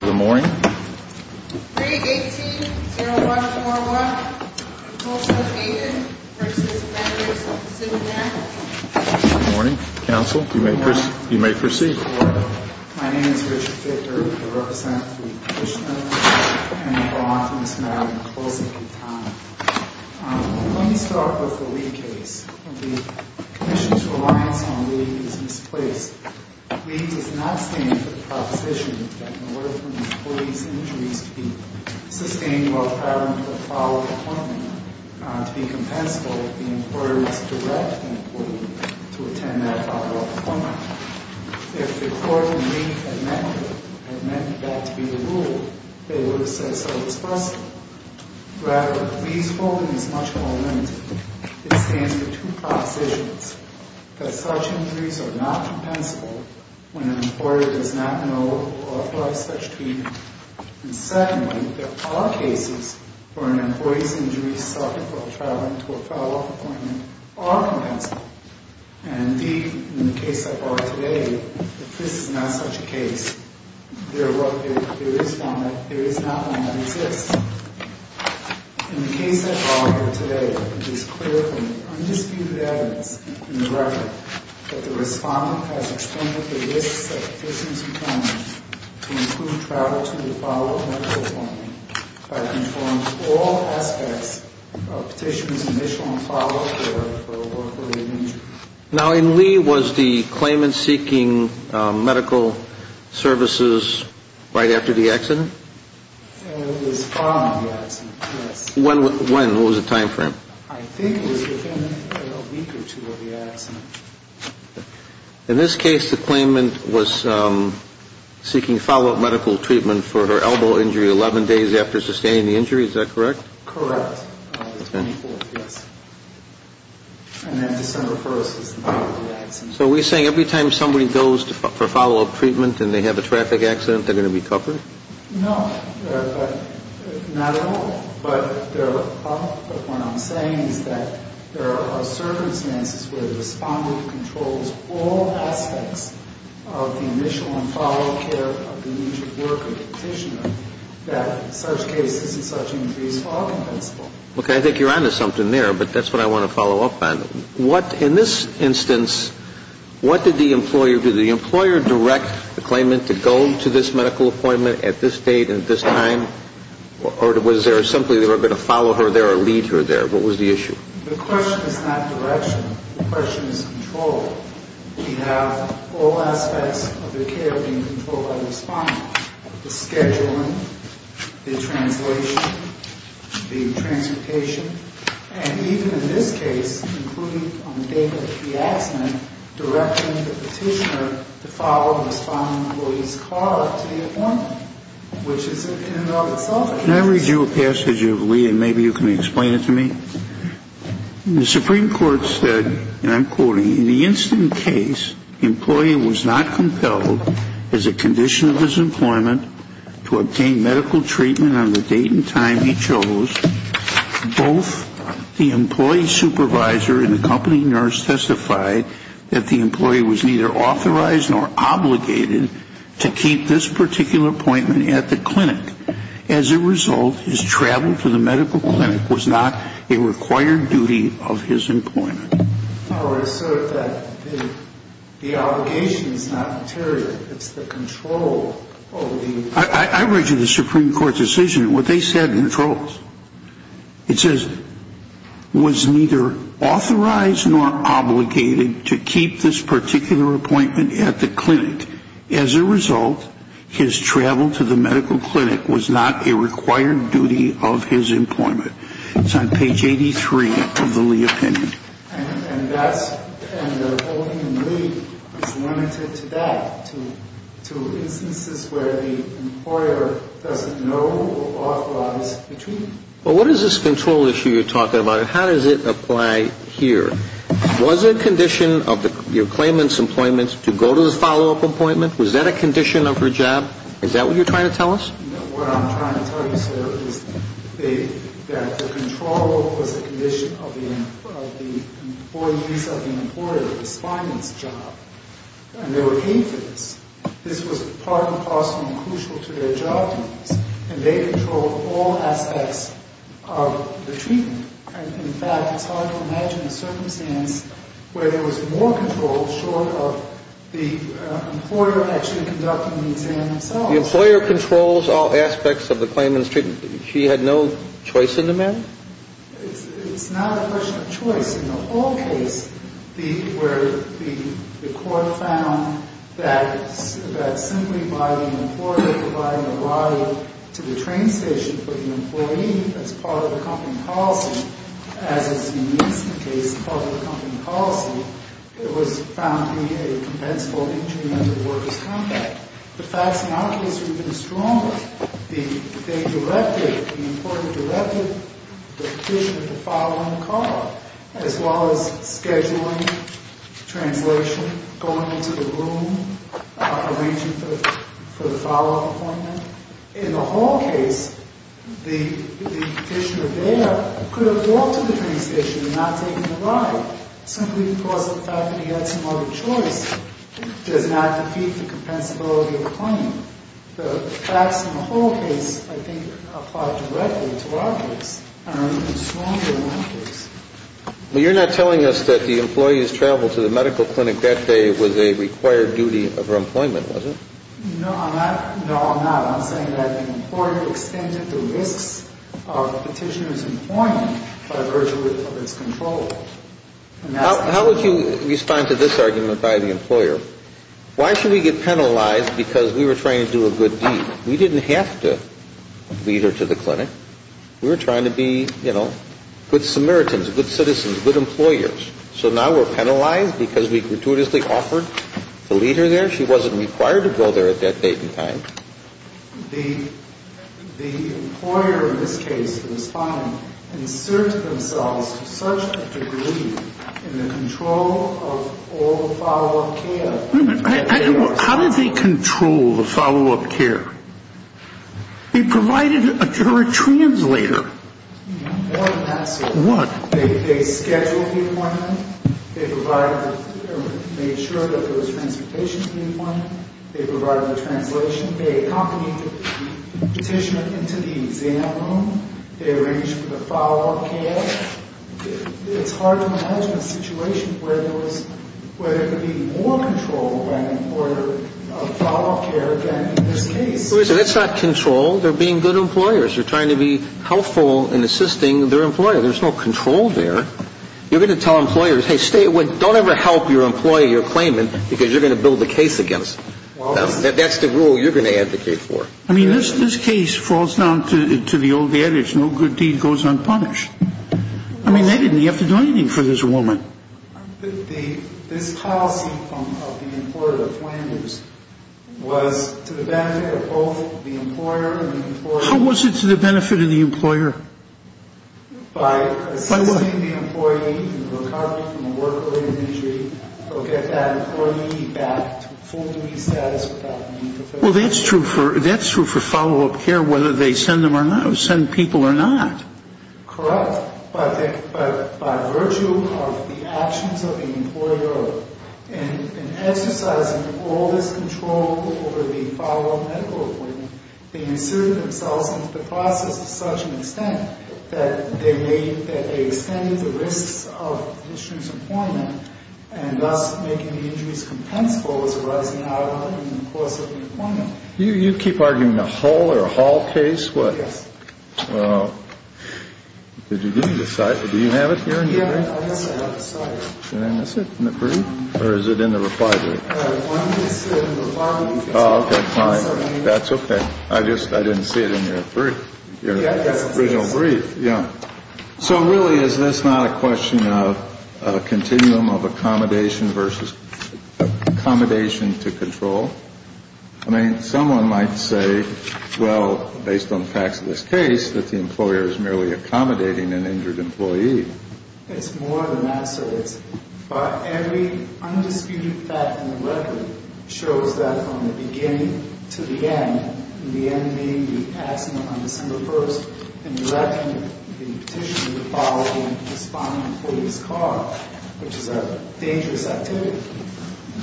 Good morning. 3-18-0141, Compulsory Payment vs. Amendments of the Civil Act. Good morning. Counsel, you may proceed. Good morning. My name is Richard Ficker. I represent the petitioner and I go on from this matter in closing the time. Let me start with the Lee case. The Commission's reliance on Lee is misplaced. Lee does not stand for the proposition that an orphan's police injuries to be sustained while prior to the follow-up appointment are to be compensable if the employer is direct and willing to attend that follow-up appointment. If the court and Lee had meant that to be the rule, they would have said so expressly. Rather, Lee's holding is much more limited. It stands for two propositions. That such injuries are not compensable when an employer does not know or applies such treatment. And secondly, that all cases where an employee's injuries suffer while traveling to a follow-up appointment are compensable. And indeed, in the case I call here today, if this is not such a case, there is not one that exists. In the case I call here today, it is clearly undisputed evidence in the record that the respondent has extended the risks that petitioners encounter to include travel to the follow-up medical appointment by conforming to all aspects of petitioner's initial and follow-up order for a work-related injury. Now, in Lee, was the claimant seeking medical services right after the accident? It was following the accident, yes. When? What was the time frame? I think it was within a week or two of the accident. In this case, the claimant was seeking follow-up medical treatment for her elbow injury 11 days after sustaining the injury. Is that correct? Correct. Okay. And then December 1st is the day of the accident. So are we saying every time somebody goes for follow-up treatment and they have a traffic accident, they're going to be covered? No, not at all. But what I'm saying is that there are circumstances where the respondent controls all aspects of the initial and follow-up care of the injured worker, the petitioner, that such cases and such injuries are compensable. Okay. I think you're on to something there, but that's what I want to follow up on. In this instance, what did the employer do? Did the employer direct the claimant to go to this medical appointment at this date and at this time, or was there simply they were going to follow her there or lead her there? What was the issue? The question is not direction. The question is control. We have all aspects of the care being controlled by the respondent, the scheduling, the translation, the transportation, and even in this case, including on the date of the accident, directing the petitioner to follow the respondent's car to the appointment, which is in and of itself a case. Can I read you a passage of Lee, and maybe you can explain it to me? The Supreme Court said, and I'm quoting, employee was not compelled as a condition of his employment to obtain medical treatment on the date and time he chose. Both the employee supervisor and the company nurse testified that the employee was neither authorized nor obligated to keep this particular appointment at the clinic. As a result, his travel to the medical clinic was not a required duty of his employment. I would assert that the allegation is not material. It's the control of the I read you the Supreme Court decision. What they said controls. It says was neither authorized nor obligated to keep this particular appointment at the clinic. As a result, his travel to the medical clinic was not a required duty of his employment. It's on page 83 of the Lee opinion. And that's, and the opinion of Lee is limited to that, to instances where the employer doesn't know or authorize the treatment. Well, what is this control issue you're talking about? How does it apply here? Was it a condition of your claimant's employment to go to the follow-up appointment? Was that a condition of her job? Is that what you're trying to tell us? What I'm trying to tell you, sir, is that the control was a condition of the employees of the employer of this claimant's job. And they were paid for this. This was part and parcel and crucial to their job duties. And they controlled all aspects of the treatment. In fact, it's hard to imagine a circumstance where there was more control short of the employer actually conducting the exam themselves. The employer controls all aspects of the claimant's treatment. She had no choice in the matter? It's not a question of choice. In the whole case, where the court found that simply by the employer providing a ride to the train station for the employee, that's part of the company policy, as is the case of the company policy, it was found to be a compensable injury under the workers' contract. The facts in our case are even stronger. The day the employer directed the petitioner to follow in the car, as well as scheduling, translation, going into the room, arranging for the follow-up appointment. In the whole case, the petitioner there could have walked to the train station and not taken the ride simply because of the fact that he had some other choice. It does not defeat the compensability of the claimant. The facts in the whole case, I think, apply directly to our case and are even stronger in my case. Well, you're not telling us that the employee's travel to the medical clinic that day was a required duty of her employment, was it? No, I'm not. No, I'm not. I'm saying that the employer extended the risks of the petitioner's employment by virtue of its control. How would you respond to this argument by the employer? Why should we get penalized because we were trying to do a good deed? We didn't have to lead her to the clinic. We were trying to be, you know, good Samaritans, good citizens, good employers. So now we're penalized because we gratuitously offered to lead her there? She wasn't required to go there at that date and time. The employer in this case, for this filing, inserted themselves to such a degree in the control of all the follow-up care. How did they control the follow-up care? They provided her a translator. I don't think that's it. What? They scheduled the appointment. They provided or made sure that there was transportation to the appointment. They provided the translation. They accompanied the petitioner into the exam room. They arranged for the follow-up care. It's hard to imagine a situation where there could be more control when in order of follow-up care than in this case. It's not control. They're being good employers. They're trying to be helpful in assisting their employer. There's no control there. You're going to tell employers, hey, stay away. Don't ever help your employee or claimant because you're going to build a case against them. That's the rule you're going to advocate for. I mean, this case falls down to the old adage, no good deed goes unpunished. I mean, they didn't have to do anything for this woman. This policy of the employer of Flanders was to the benefit of both the employer and the employee. How was it to the benefit of the employer? By assisting the employee in recovery from a work-related injury or get that employee back to full duty status. Well, that's true for follow-up care whether they send people or not. Correct. But by virtue of the actions of the employer in exercising all this control over the follow-up medical appointment, they asserted themselves in the process to such an extent that they extended the risks of the patient's appointment and thus making the injuries compensable as a rising hour in the course of the appointment. You keep arguing a hull or a haul case. Yes. Well, did you give me the site? Do you have it here? Yes, I have the site. And is it in the brief or is it in the reply brief? One is in the reply brief. Okay, fine. That's okay. I just didn't see it in your original brief. So really, is this not a question of a continuum of accommodation versus accommodation to control? I mean, someone might say, well, based on the facts of this case, that the employer is merely accommodating an injured employee. It's more than that. So every undisputed fact in the record shows that from the beginning to the end, and the end may be passing on December 1st and directing the petitioner to follow the responding police car, which is a dangerous activity,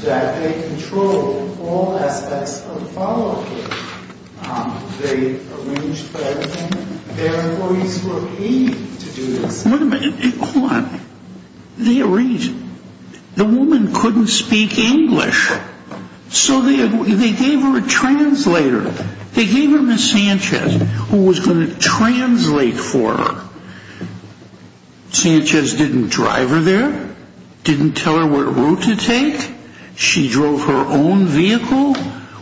that they control all aspects of the follow-up care. They arrange for everything. And their employees were paid to do this. Wait a minute. Hold on. They arranged. The woman couldn't speak English. So they gave her a translator. They gave her Ms. Sanchez, who was going to translate for her. Sanchez didn't drive her there, didn't tell her what route to take. She drove her own vehicle.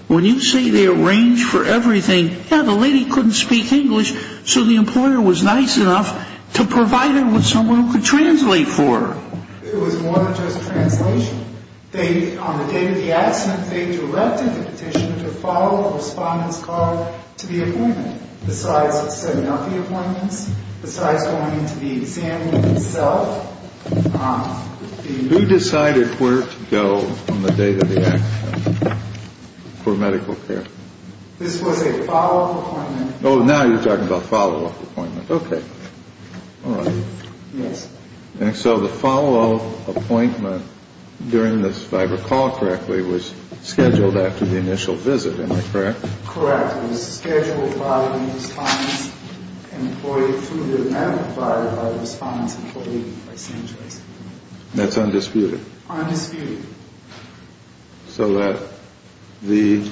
When you say they arranged for everything, yeah, the lady couldn't speak English, so the employer was nice enough to provide her with someone who could translate for her. It was more than just translation. On the day of the accident, they directed the petitioner to follow the respondent's car to the appointment, besides setting up the appointments, besides going into the exam with himself. Who decided where to go on the date of the accident for medical care? This was a follow-up appointment. Oh, now you're talking about follow-up appointment. Okay. All right. Yes. And so the follow-up appointment during this, if I recall correctly, was scheduled after the initial visit, am I correct? Correct. That was scheduled by the respondent's employee to the medical provider by the respondent's employee by Sanchez. That's undisputed. Undisputed. So that the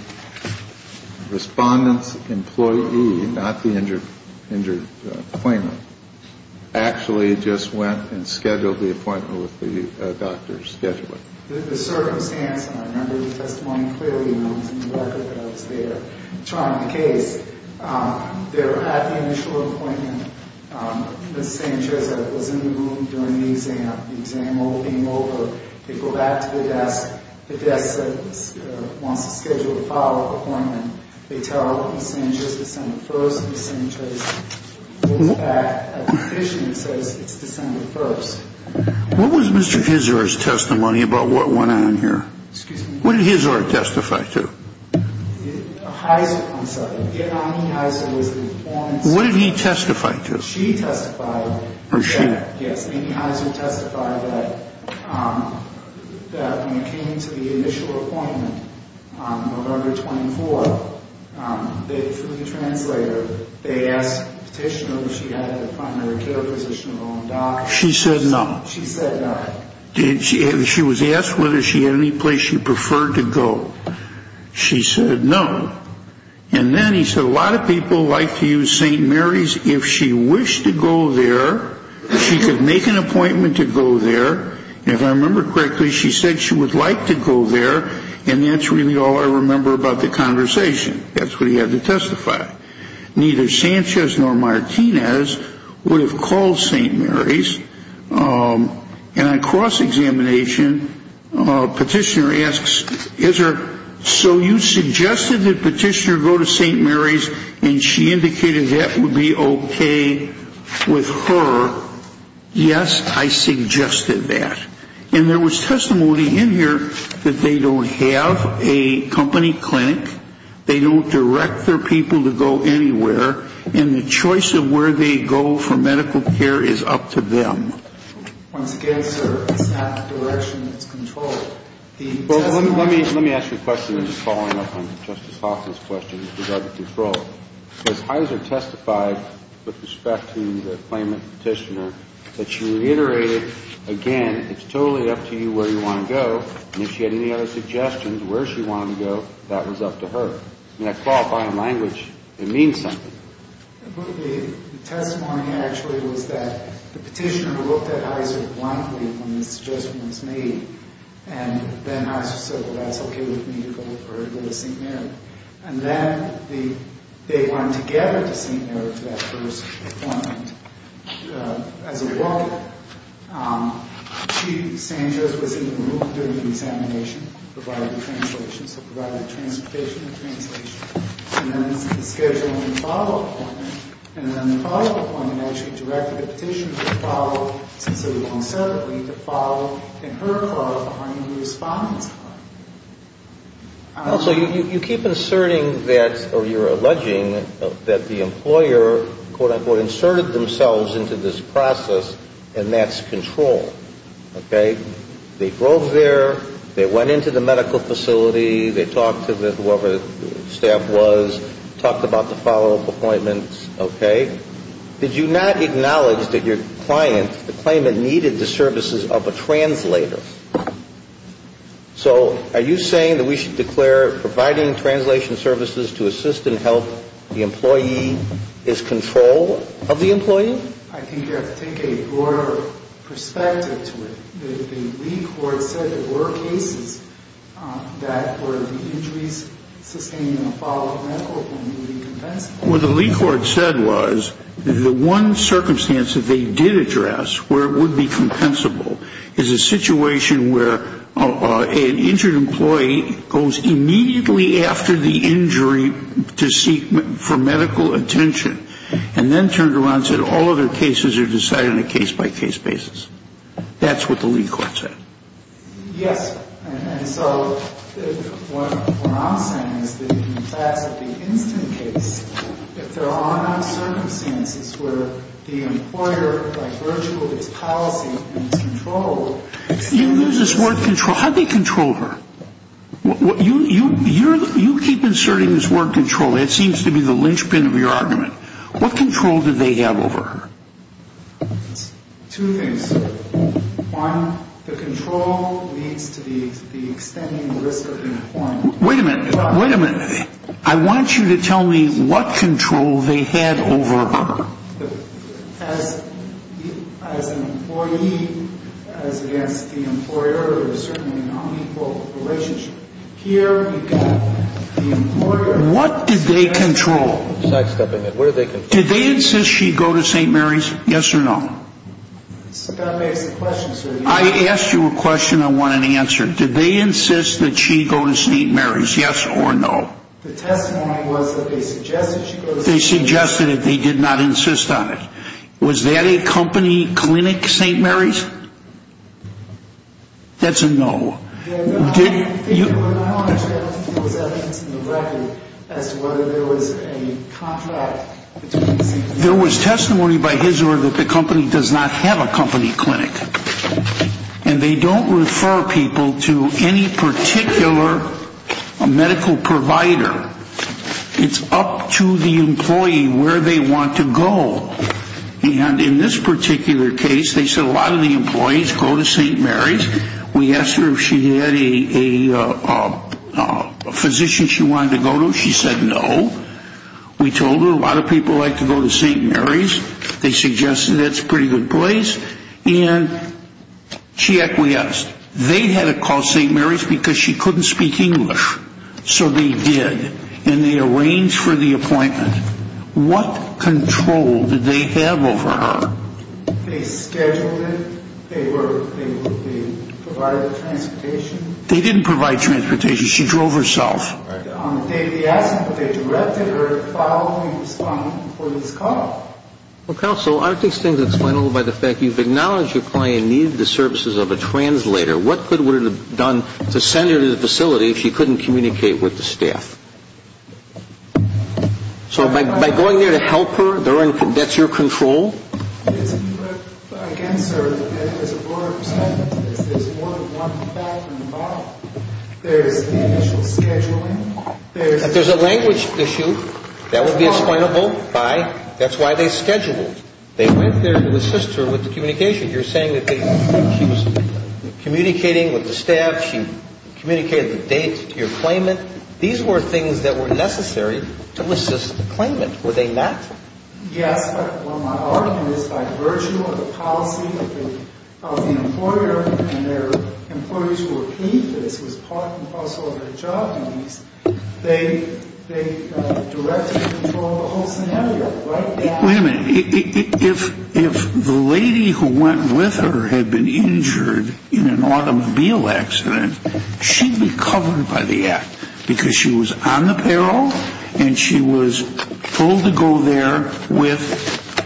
respondent's employee, not the injured claimant, actually just went and scheduled the appointment with the doctor scheduling. The circumstance, and I remember the testimony clearly, and it was in the record that I was there trying the case, they're at the initial appointment. Ms. Sanchez was in the room during the exam. The exam will be over. They go back to the desk. The desk wants to schedule the follow-up appointment. They tell Ms. Sanchez it's December 1st. Ms. Sanchez looks back at the petition and says it's December 1st. What was Mr. Hizor's testimony about what went on here? What did Hizor testify to? Hizor, I'm sorry. What did he testify to? She testified. Or she? Yes. Amy Hizor testified that when it came to the initial appointment, November 24, the translator, they asked the petitioner if she had a primary care physician of her own doctor. She said no. She said no. She was asked whether she had any place she preferred to go. She said no. And then he said a lot of people like to use St. Mary's. If she wished to go there, she could make an appointment to go there. If I remember correctly, she said she would like to go there, and that's really all I remember about the conversation. That's what he had to testify. Neither Sanchez nor Martinez would have called St. Mary's. And on cross-examination, petitioner asks Hizor, so you suggested the petitioner go to St. Mary's and she indicated that would be okay with her. Yes, I suggested that. And there was testimony in here that they don't have a company clinic, they don't direct their people to go anywhere, and the choice of where they go for medical care is up to them. Once again, sir, it's not the direction that's controlled. Well, let me ask you a question that's following up on Justice Hoffman's question with regard to control. Because Hizor testified with respect to the claimant petitioner that she reiterated, again, it's totally up to you where you want to go, and if she had any other suggestions where she wanted to go, that was up to her. I mean, that qualifying language, it means something. The testimony actually was that the petitioner looked at Hizor blindly when the suggestion was made, and then Hizor said, well, that's okay with me to go to St. Mary's. And then they went together to St. Mary's for that first appointment. As a walk-in, she, Sanchez, was in the room doing the examination, providing translation, so providing transportation and translation, and then scheduling the follow-up appointment. And then the follow-up appointment actually directed the petitioner to follow, since it was concertedly to follow in her club, I mean the respondent's club. Also, you keep asserting that, or you're alleging that the employer, quote-unquote, inserted themselves into this process, and that's control. Okay? They drove there, they went into the medical facility, they talked to whoever the staff was, talked about the follow-up appointments, okay? Did you not acknowledge that your client, the claimant, needed the services of a translator? So are you saying that we should declare providing translation services to assist and help the employee is control of the employee? I think you have to take a broader perspective to it. The Lee court said there were cases that were the injuries sustained in a follow-up medical appointment would be compensable. What the Lee court said was the one circumstance that they did address where it would be compensable is a situation where an injured employee goes immediately after the injury to seek for medical attention and then turned around and said all other cases are decided on a case-by-case basis. That's what the Lee court said. Yes. And so what I'm saying is that in the class of the instant case, if there are not circumstances where the employer, by virtue of its policy and its control, You use this word control. How do you control her? You keep inserting this word control. It seems to be the linchpin of your argument. What control do they have over her? Two things. One, the control leads to the extending the risk of an appointment. Wait a minute. Wait a minute. I want you to tell me what control they had over her. As an employee, as the employer, there was certainly an unequal relationship. Here, you've got the employer. What did they control? Side-stepping it. Where did they control? Did they insist she go to St. Mary's? Yes or no? You've got to ask the question, sir. I asked you a question. I want an answer. Did they insist that she go to St. Mary's? Yes or no? The testimony was that they suggested she go to St. Mary's. They suggested it. They did not insist on it. Was that a company clinic, St. Mary's? That's a no. I want to check if there was evidence in the record as to whether there was a contract between St. Mary's. There was testimony by his order that the company does not have a company clinic. And they don't refer people to any particular medical provider. It's up to the employee where they want to go. And in this particular case, they said a lot of the employees go to St. Mary's. We asked her if she had a physician she wanted to go to. She said no. We told her a lot of people like to go to St. Mary's. They suggested that's a pretty good place. And she acquiesced. They had to call St. Mary's because she couldn't speak English. So they did. And they arranged for the appointment. What control did they have over her? They scheduled it. They provided transportation. They didn't provide transportation. She drove herself. They asked if they directed her to follow and respond before this call. Well, counsel, aren't these things explainable by the fact you've acknowledged your client needed the services of a translator? What could have been done to send her to the facility if she couldn't communicate with the staff? So by going there to help her, that's your control? Again, sir, there's a broader perspective to this. There's more than one factor involved. There's the initial scheduling. There's a language issue. That would be explainable by? That's why they scheduled. They went there to assist her with the communication. You're saying that she was communicating with the staff. She communicated the date to your claimant. These were things that were necessary to assist the claimant. Were they not? Yes. Well, my argument is by virtue of the policy of the employer and their employees who were paid this was part and parcel of their job, they directed control of the whole scenario, right? Wait a minute. If the lady who went with her had been injured in an automobile accident, she'd be covered by the act because she was on the payroll and she was told to go there with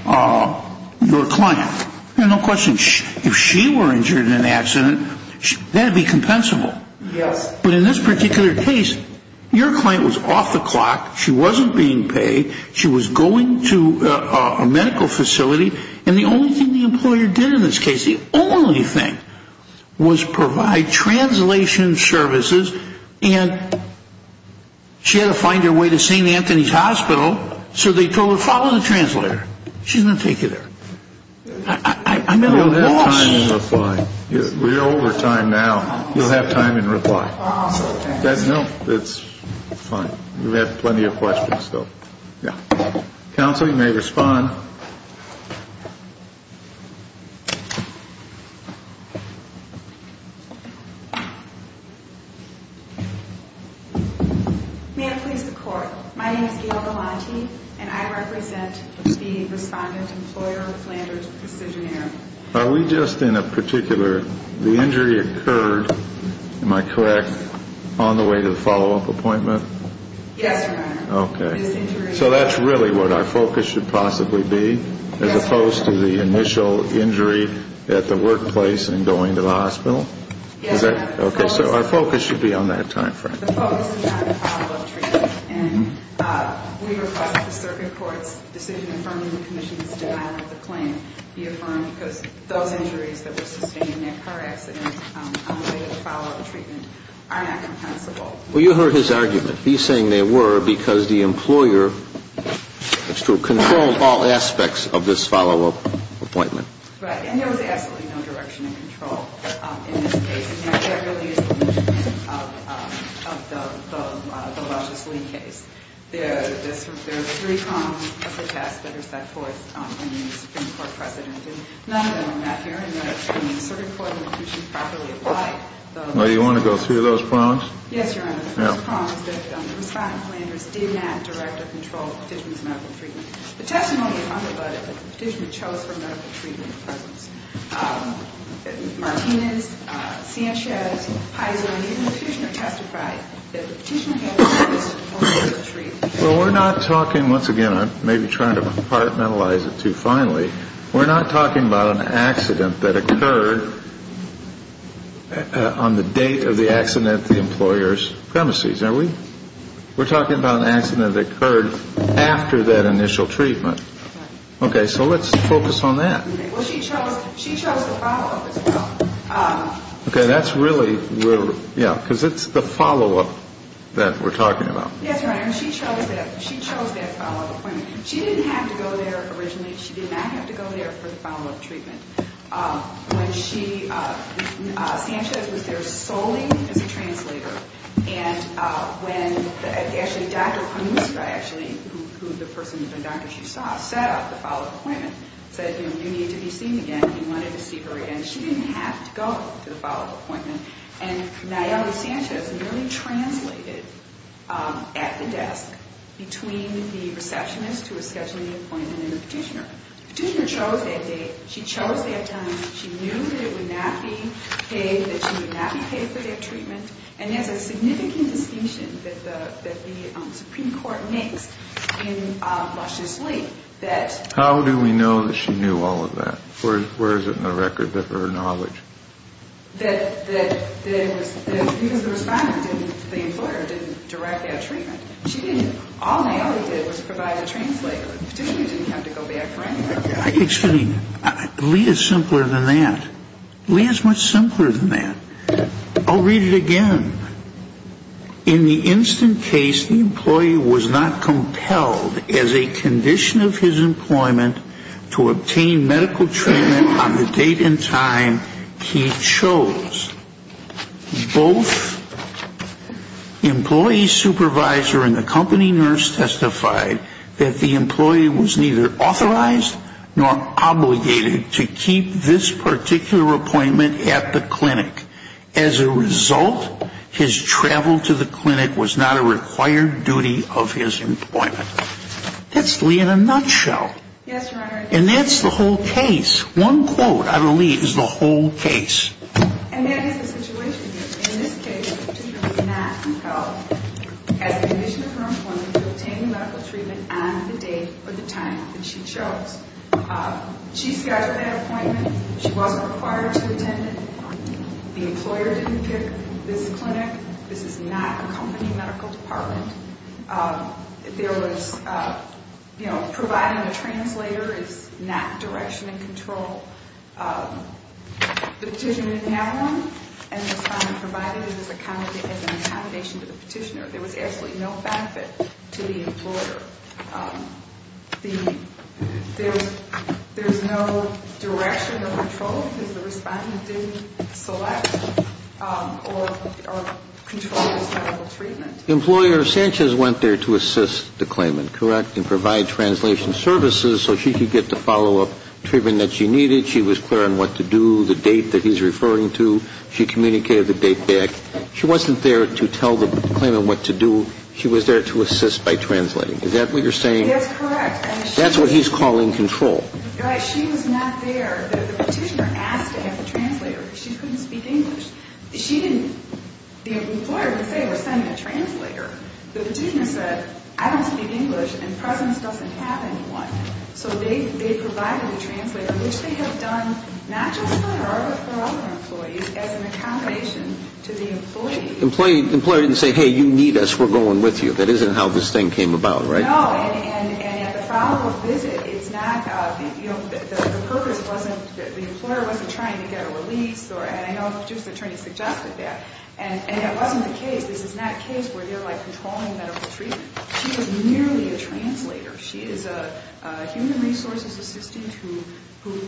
your client. No question. If she were injured in an accident, that would be compensable. Yes. But in this particular case, your client was off the clock. She wasn't being paid. She was going to a medical facility, and the only thing the employer did in this case, the only thing was provide translation services, and she had to find her way to St. Anthony's Hospital, so they told her, follow the translator. She's going to take you there. You'll have time in reply. We're over time now. You'll have time in reply. No, it's fine. We have plenty of questions, though. May it please the Court. My name is Gail Vellante, and I represent the respondent employer, Flanders Precision Air. Are we just in a particular, the injury occurred, am I correct, on the way to the follow-up appointment? Yes, Your Honor. Okay. So that's really what our focus should possibly be as opposed to the initial injury at the workplace and going to the hospital? Yes. Okay, so our focus should be on that timeframe. The focus is on the follow-up treatment, and we request that the circuit court's decision affirming the commission's denial of the claim be affirmed because those injuries that were sustained in that car accident on the way to the follow-up treatment are not compensable. Well, you heard his argument. He's saying they were because the employer controlled all aspects of this follow-up appointment. Right, and there was absolutely no direction of control in this case. That really is the mission of the Luscious Lee case. There are three prongs of the test that are set forth in the Supreme Court precedent, and none of them are met here in the circuit court in which it's properly applied. Well, you want to go through those prongs? Yes, Your Honor. The first prong is that the respondent, Flanders, did not direct or control the petition's medical treatment. The testimony is undercutted, but the petitioner chose for medical treatment in the presence. Martinez, Sanchez, Pizer, and even the petitioner testified that the petitioner had a purpose for medical treatment. Well, we're not talking, once again, I'm maybe trying to compartmentalize it too finely, we're not talking about an accident that occurred on the date of the accident at the employer's premises, are we? We're talking about an accident that occurred after that initial treatment. Right. Okay, so let's focus on that. Well, she chose the follow-up as well. Okay, that's really where, yeah, because it's the follow-up that we're talking about. Yes, Your Honor, and she chose that follow-up appointment. She didn't have to go there originally. She did not have to go there for the follow-up treatment. When she, Sanchez was there solely as a translator, and when actually Dr. Panuska, actually, who the person, the doctor she saw, set up the follow-up appointment, said, you know, you need to be seen again, he wanted to see her again, she didn't have to go to the follow-up appointment, and Nayeli Sanchez merely translated at the desk between the receptionist who was scheduling the appointment and the petitioner. The petitioner chose that date, she chose that time, she knew that it would not be paid, that she would not be paid for that treatment, and there's a significant distinction that the Supreme Court makes in Lushness Lake that How do we know that she knew all of that? Where is it in the record that her knowledge? That it was, because the respondent didn't, the employer didn't direct that treatment. She didn't, all Nayeli did was provide a translator. The petitioner didn't have to go back for anything. Excuse me. Lee is simpler than that. Lee is much simpler than that. I'll read it again. In the instant case the employee was not compelled as a condition of his employment to obtain medical treatment on the date and time he chose, both employee supervisor and the company nurse testified that the employee was neither authorized nor obligated to keep this particular appointment at the clinic. As a result, his travel to the clinic was not a required duty of his employment. That's Lee in a nutshell. Yes, Your Honor. And that's the whole case. One quote, I believe, is the whole case. And that is the situation here. In this case, the petitioner was not compelled as a condition of her employment to obtain medical treatment on the date or the time that she chose. She scheduled that appointment. She wasn't required to attend it. The employer didn't pick this clinic. This is not a company medical department. There was, you know, providing a translator is not direction and control. The petitioner didn't have one, and was finally provided as an accommodation to the petitioner. There was absolutely no benefit to the employer. There's no direction or control because the respondent didn't select or control this type of treatment. Employer Sanchez went there to assist the claimant, correct, and provide translation services so she could get the follow-up treatment that she needed. She was clear on what to do, the date that he's referring to. She communicated the date back. She wasn't there to tell the claimant what to do. She was there to assist by translating. Is that what you're saying? That's correct. That's what he's calling control. Right. She was not there. The petitioner asked to have the translator. She couldn't speak English. She didn't. The employer would say, we're sending a translator. The petitioner said, I don't speak English, and Presence doesn't have anyone. So they provided the translator, which they have done not just for her, but for other employees as an accommodation to the employee. The employer didn't say, hey, you need us. We're going with you. That isn't how this thing came about, right? No, and at the follow-up visit, it's not, you know, the purpose wasn't, the employer wasn't trying to get a release, and I know the petitioner's attorney suggested that, and that wasn't the case. This is not a case where they're, like, controlling medical treatment. She was merely a translator. She is a human resources assistant who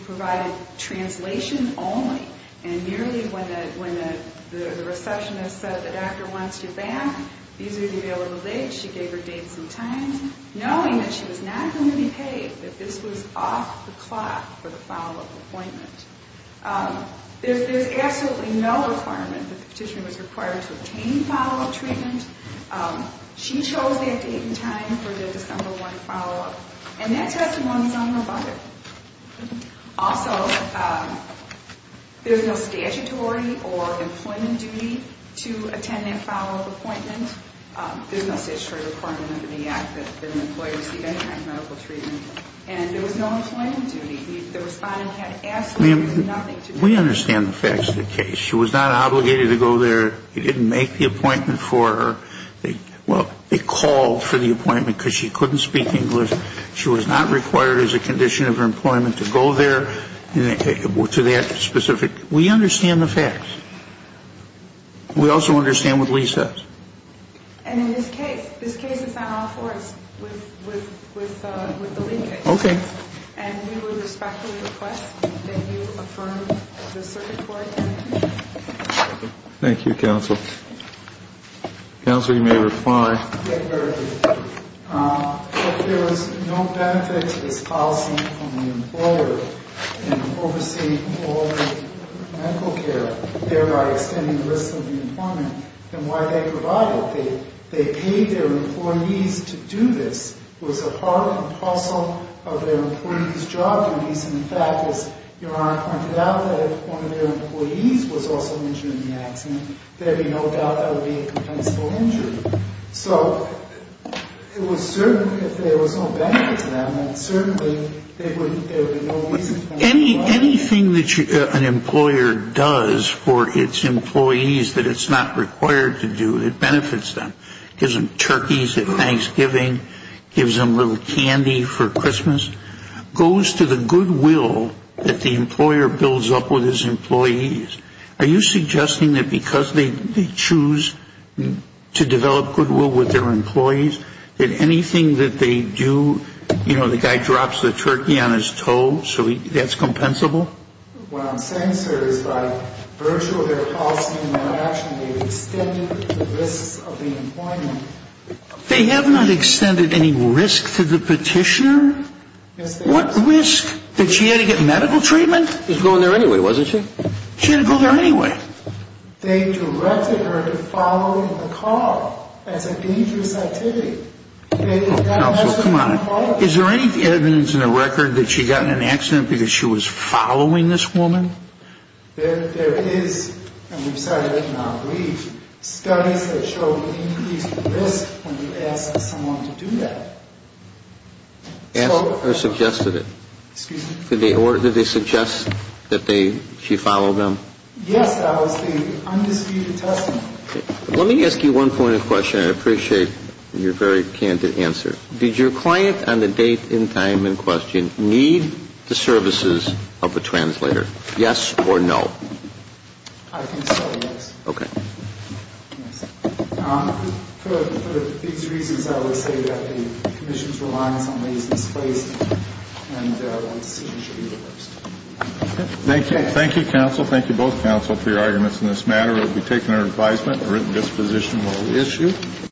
provided translation only, and merely when the receptionist said the doctor wants you back, these are the available dates. She gave her dates and times, knowing that she was not going to be paid, that this was off the clock for the follow-up appointment. There's absolutely no requirement that the petitioner was required to obtain follow-up treatment. She chose that date and time for the December 1 follow-up, and that says one thing about it. Also, there's no statutory or employment duty to attend that follow-up appointment. There's no statutory requirement under the Act that an employer receive any kind of medical treatment, and there was no employment duty. The respondent had absolutely nothing to do with it. Ma'am, we understand the facts of the case. She was not obligated to go there. They didn't make the appointment for her. Well, they called for the appointment because she couldn't speak English. She was not required as a condition of her employment to go there to that specific. We understand the facts. We also understand what Lee says. And in this case, this case is not all for us with the linkage. Okay. And we would respectfully request that you affirm the circuit court. Thank you, counsel. Counsel, you may reply. If there is no benefit to this policy from the employer in overseeing all the medical care, thereby extending the risk of the employment, then why are they provided? They paid their employees to do this. It was a part and parcel of their employees' job duties. And the fact is, Your Honor pointed out that if one of their employees was also injured in the accident, there would be no doubt that would be a compensable injury. So it was certain that if there was no benefit to them, then certainly there would be no reason for them to go on. Anything that an employer does for its employees that it's not required to do, it benefits them. Gives them turkeys at Thanksgiving. Gives them a little candy for Christmas. Goes to the goodwill that the employer builds up with his employees. Are you suggesting that because they choose to develop goodwill with their employees, that anything that they do, you know, the guy drops the turkey on his toe, so that's compensable? What I'm saying, sir, is by virtue of their policy and their action, they've extended the risks of the employment. They have not extended any risk to the petitioner? Yes, they have. What risk? That she had to get medical treatment? She was going there anyway, wasn't she? She had to go there anyway. They directed her to follow in the car as a dangerous activity. Counsel, come on. Is there any evidence in the record that she got in an accident because she was following this woman? There is, and we've said it in our brief, studies that show increased risk when you ask someone to do that. Asked or suggested it? Excuse me? Did they suggest that she followed them? Yes, that was the undisputed testament. Let me ask you one point of question. I appreciate your very candid answer. Did your client on the date and time in question need the services of a translator, yes or no? I can say yes. Okay. For these reasons, I would say that the commission's reliance on me is misplaced and the decision should be reversed. Thank you. Thank you, counsel. Thank you both, counsel, for your arguments in this matter. It will be taken under advisement. A written disposition will be issued.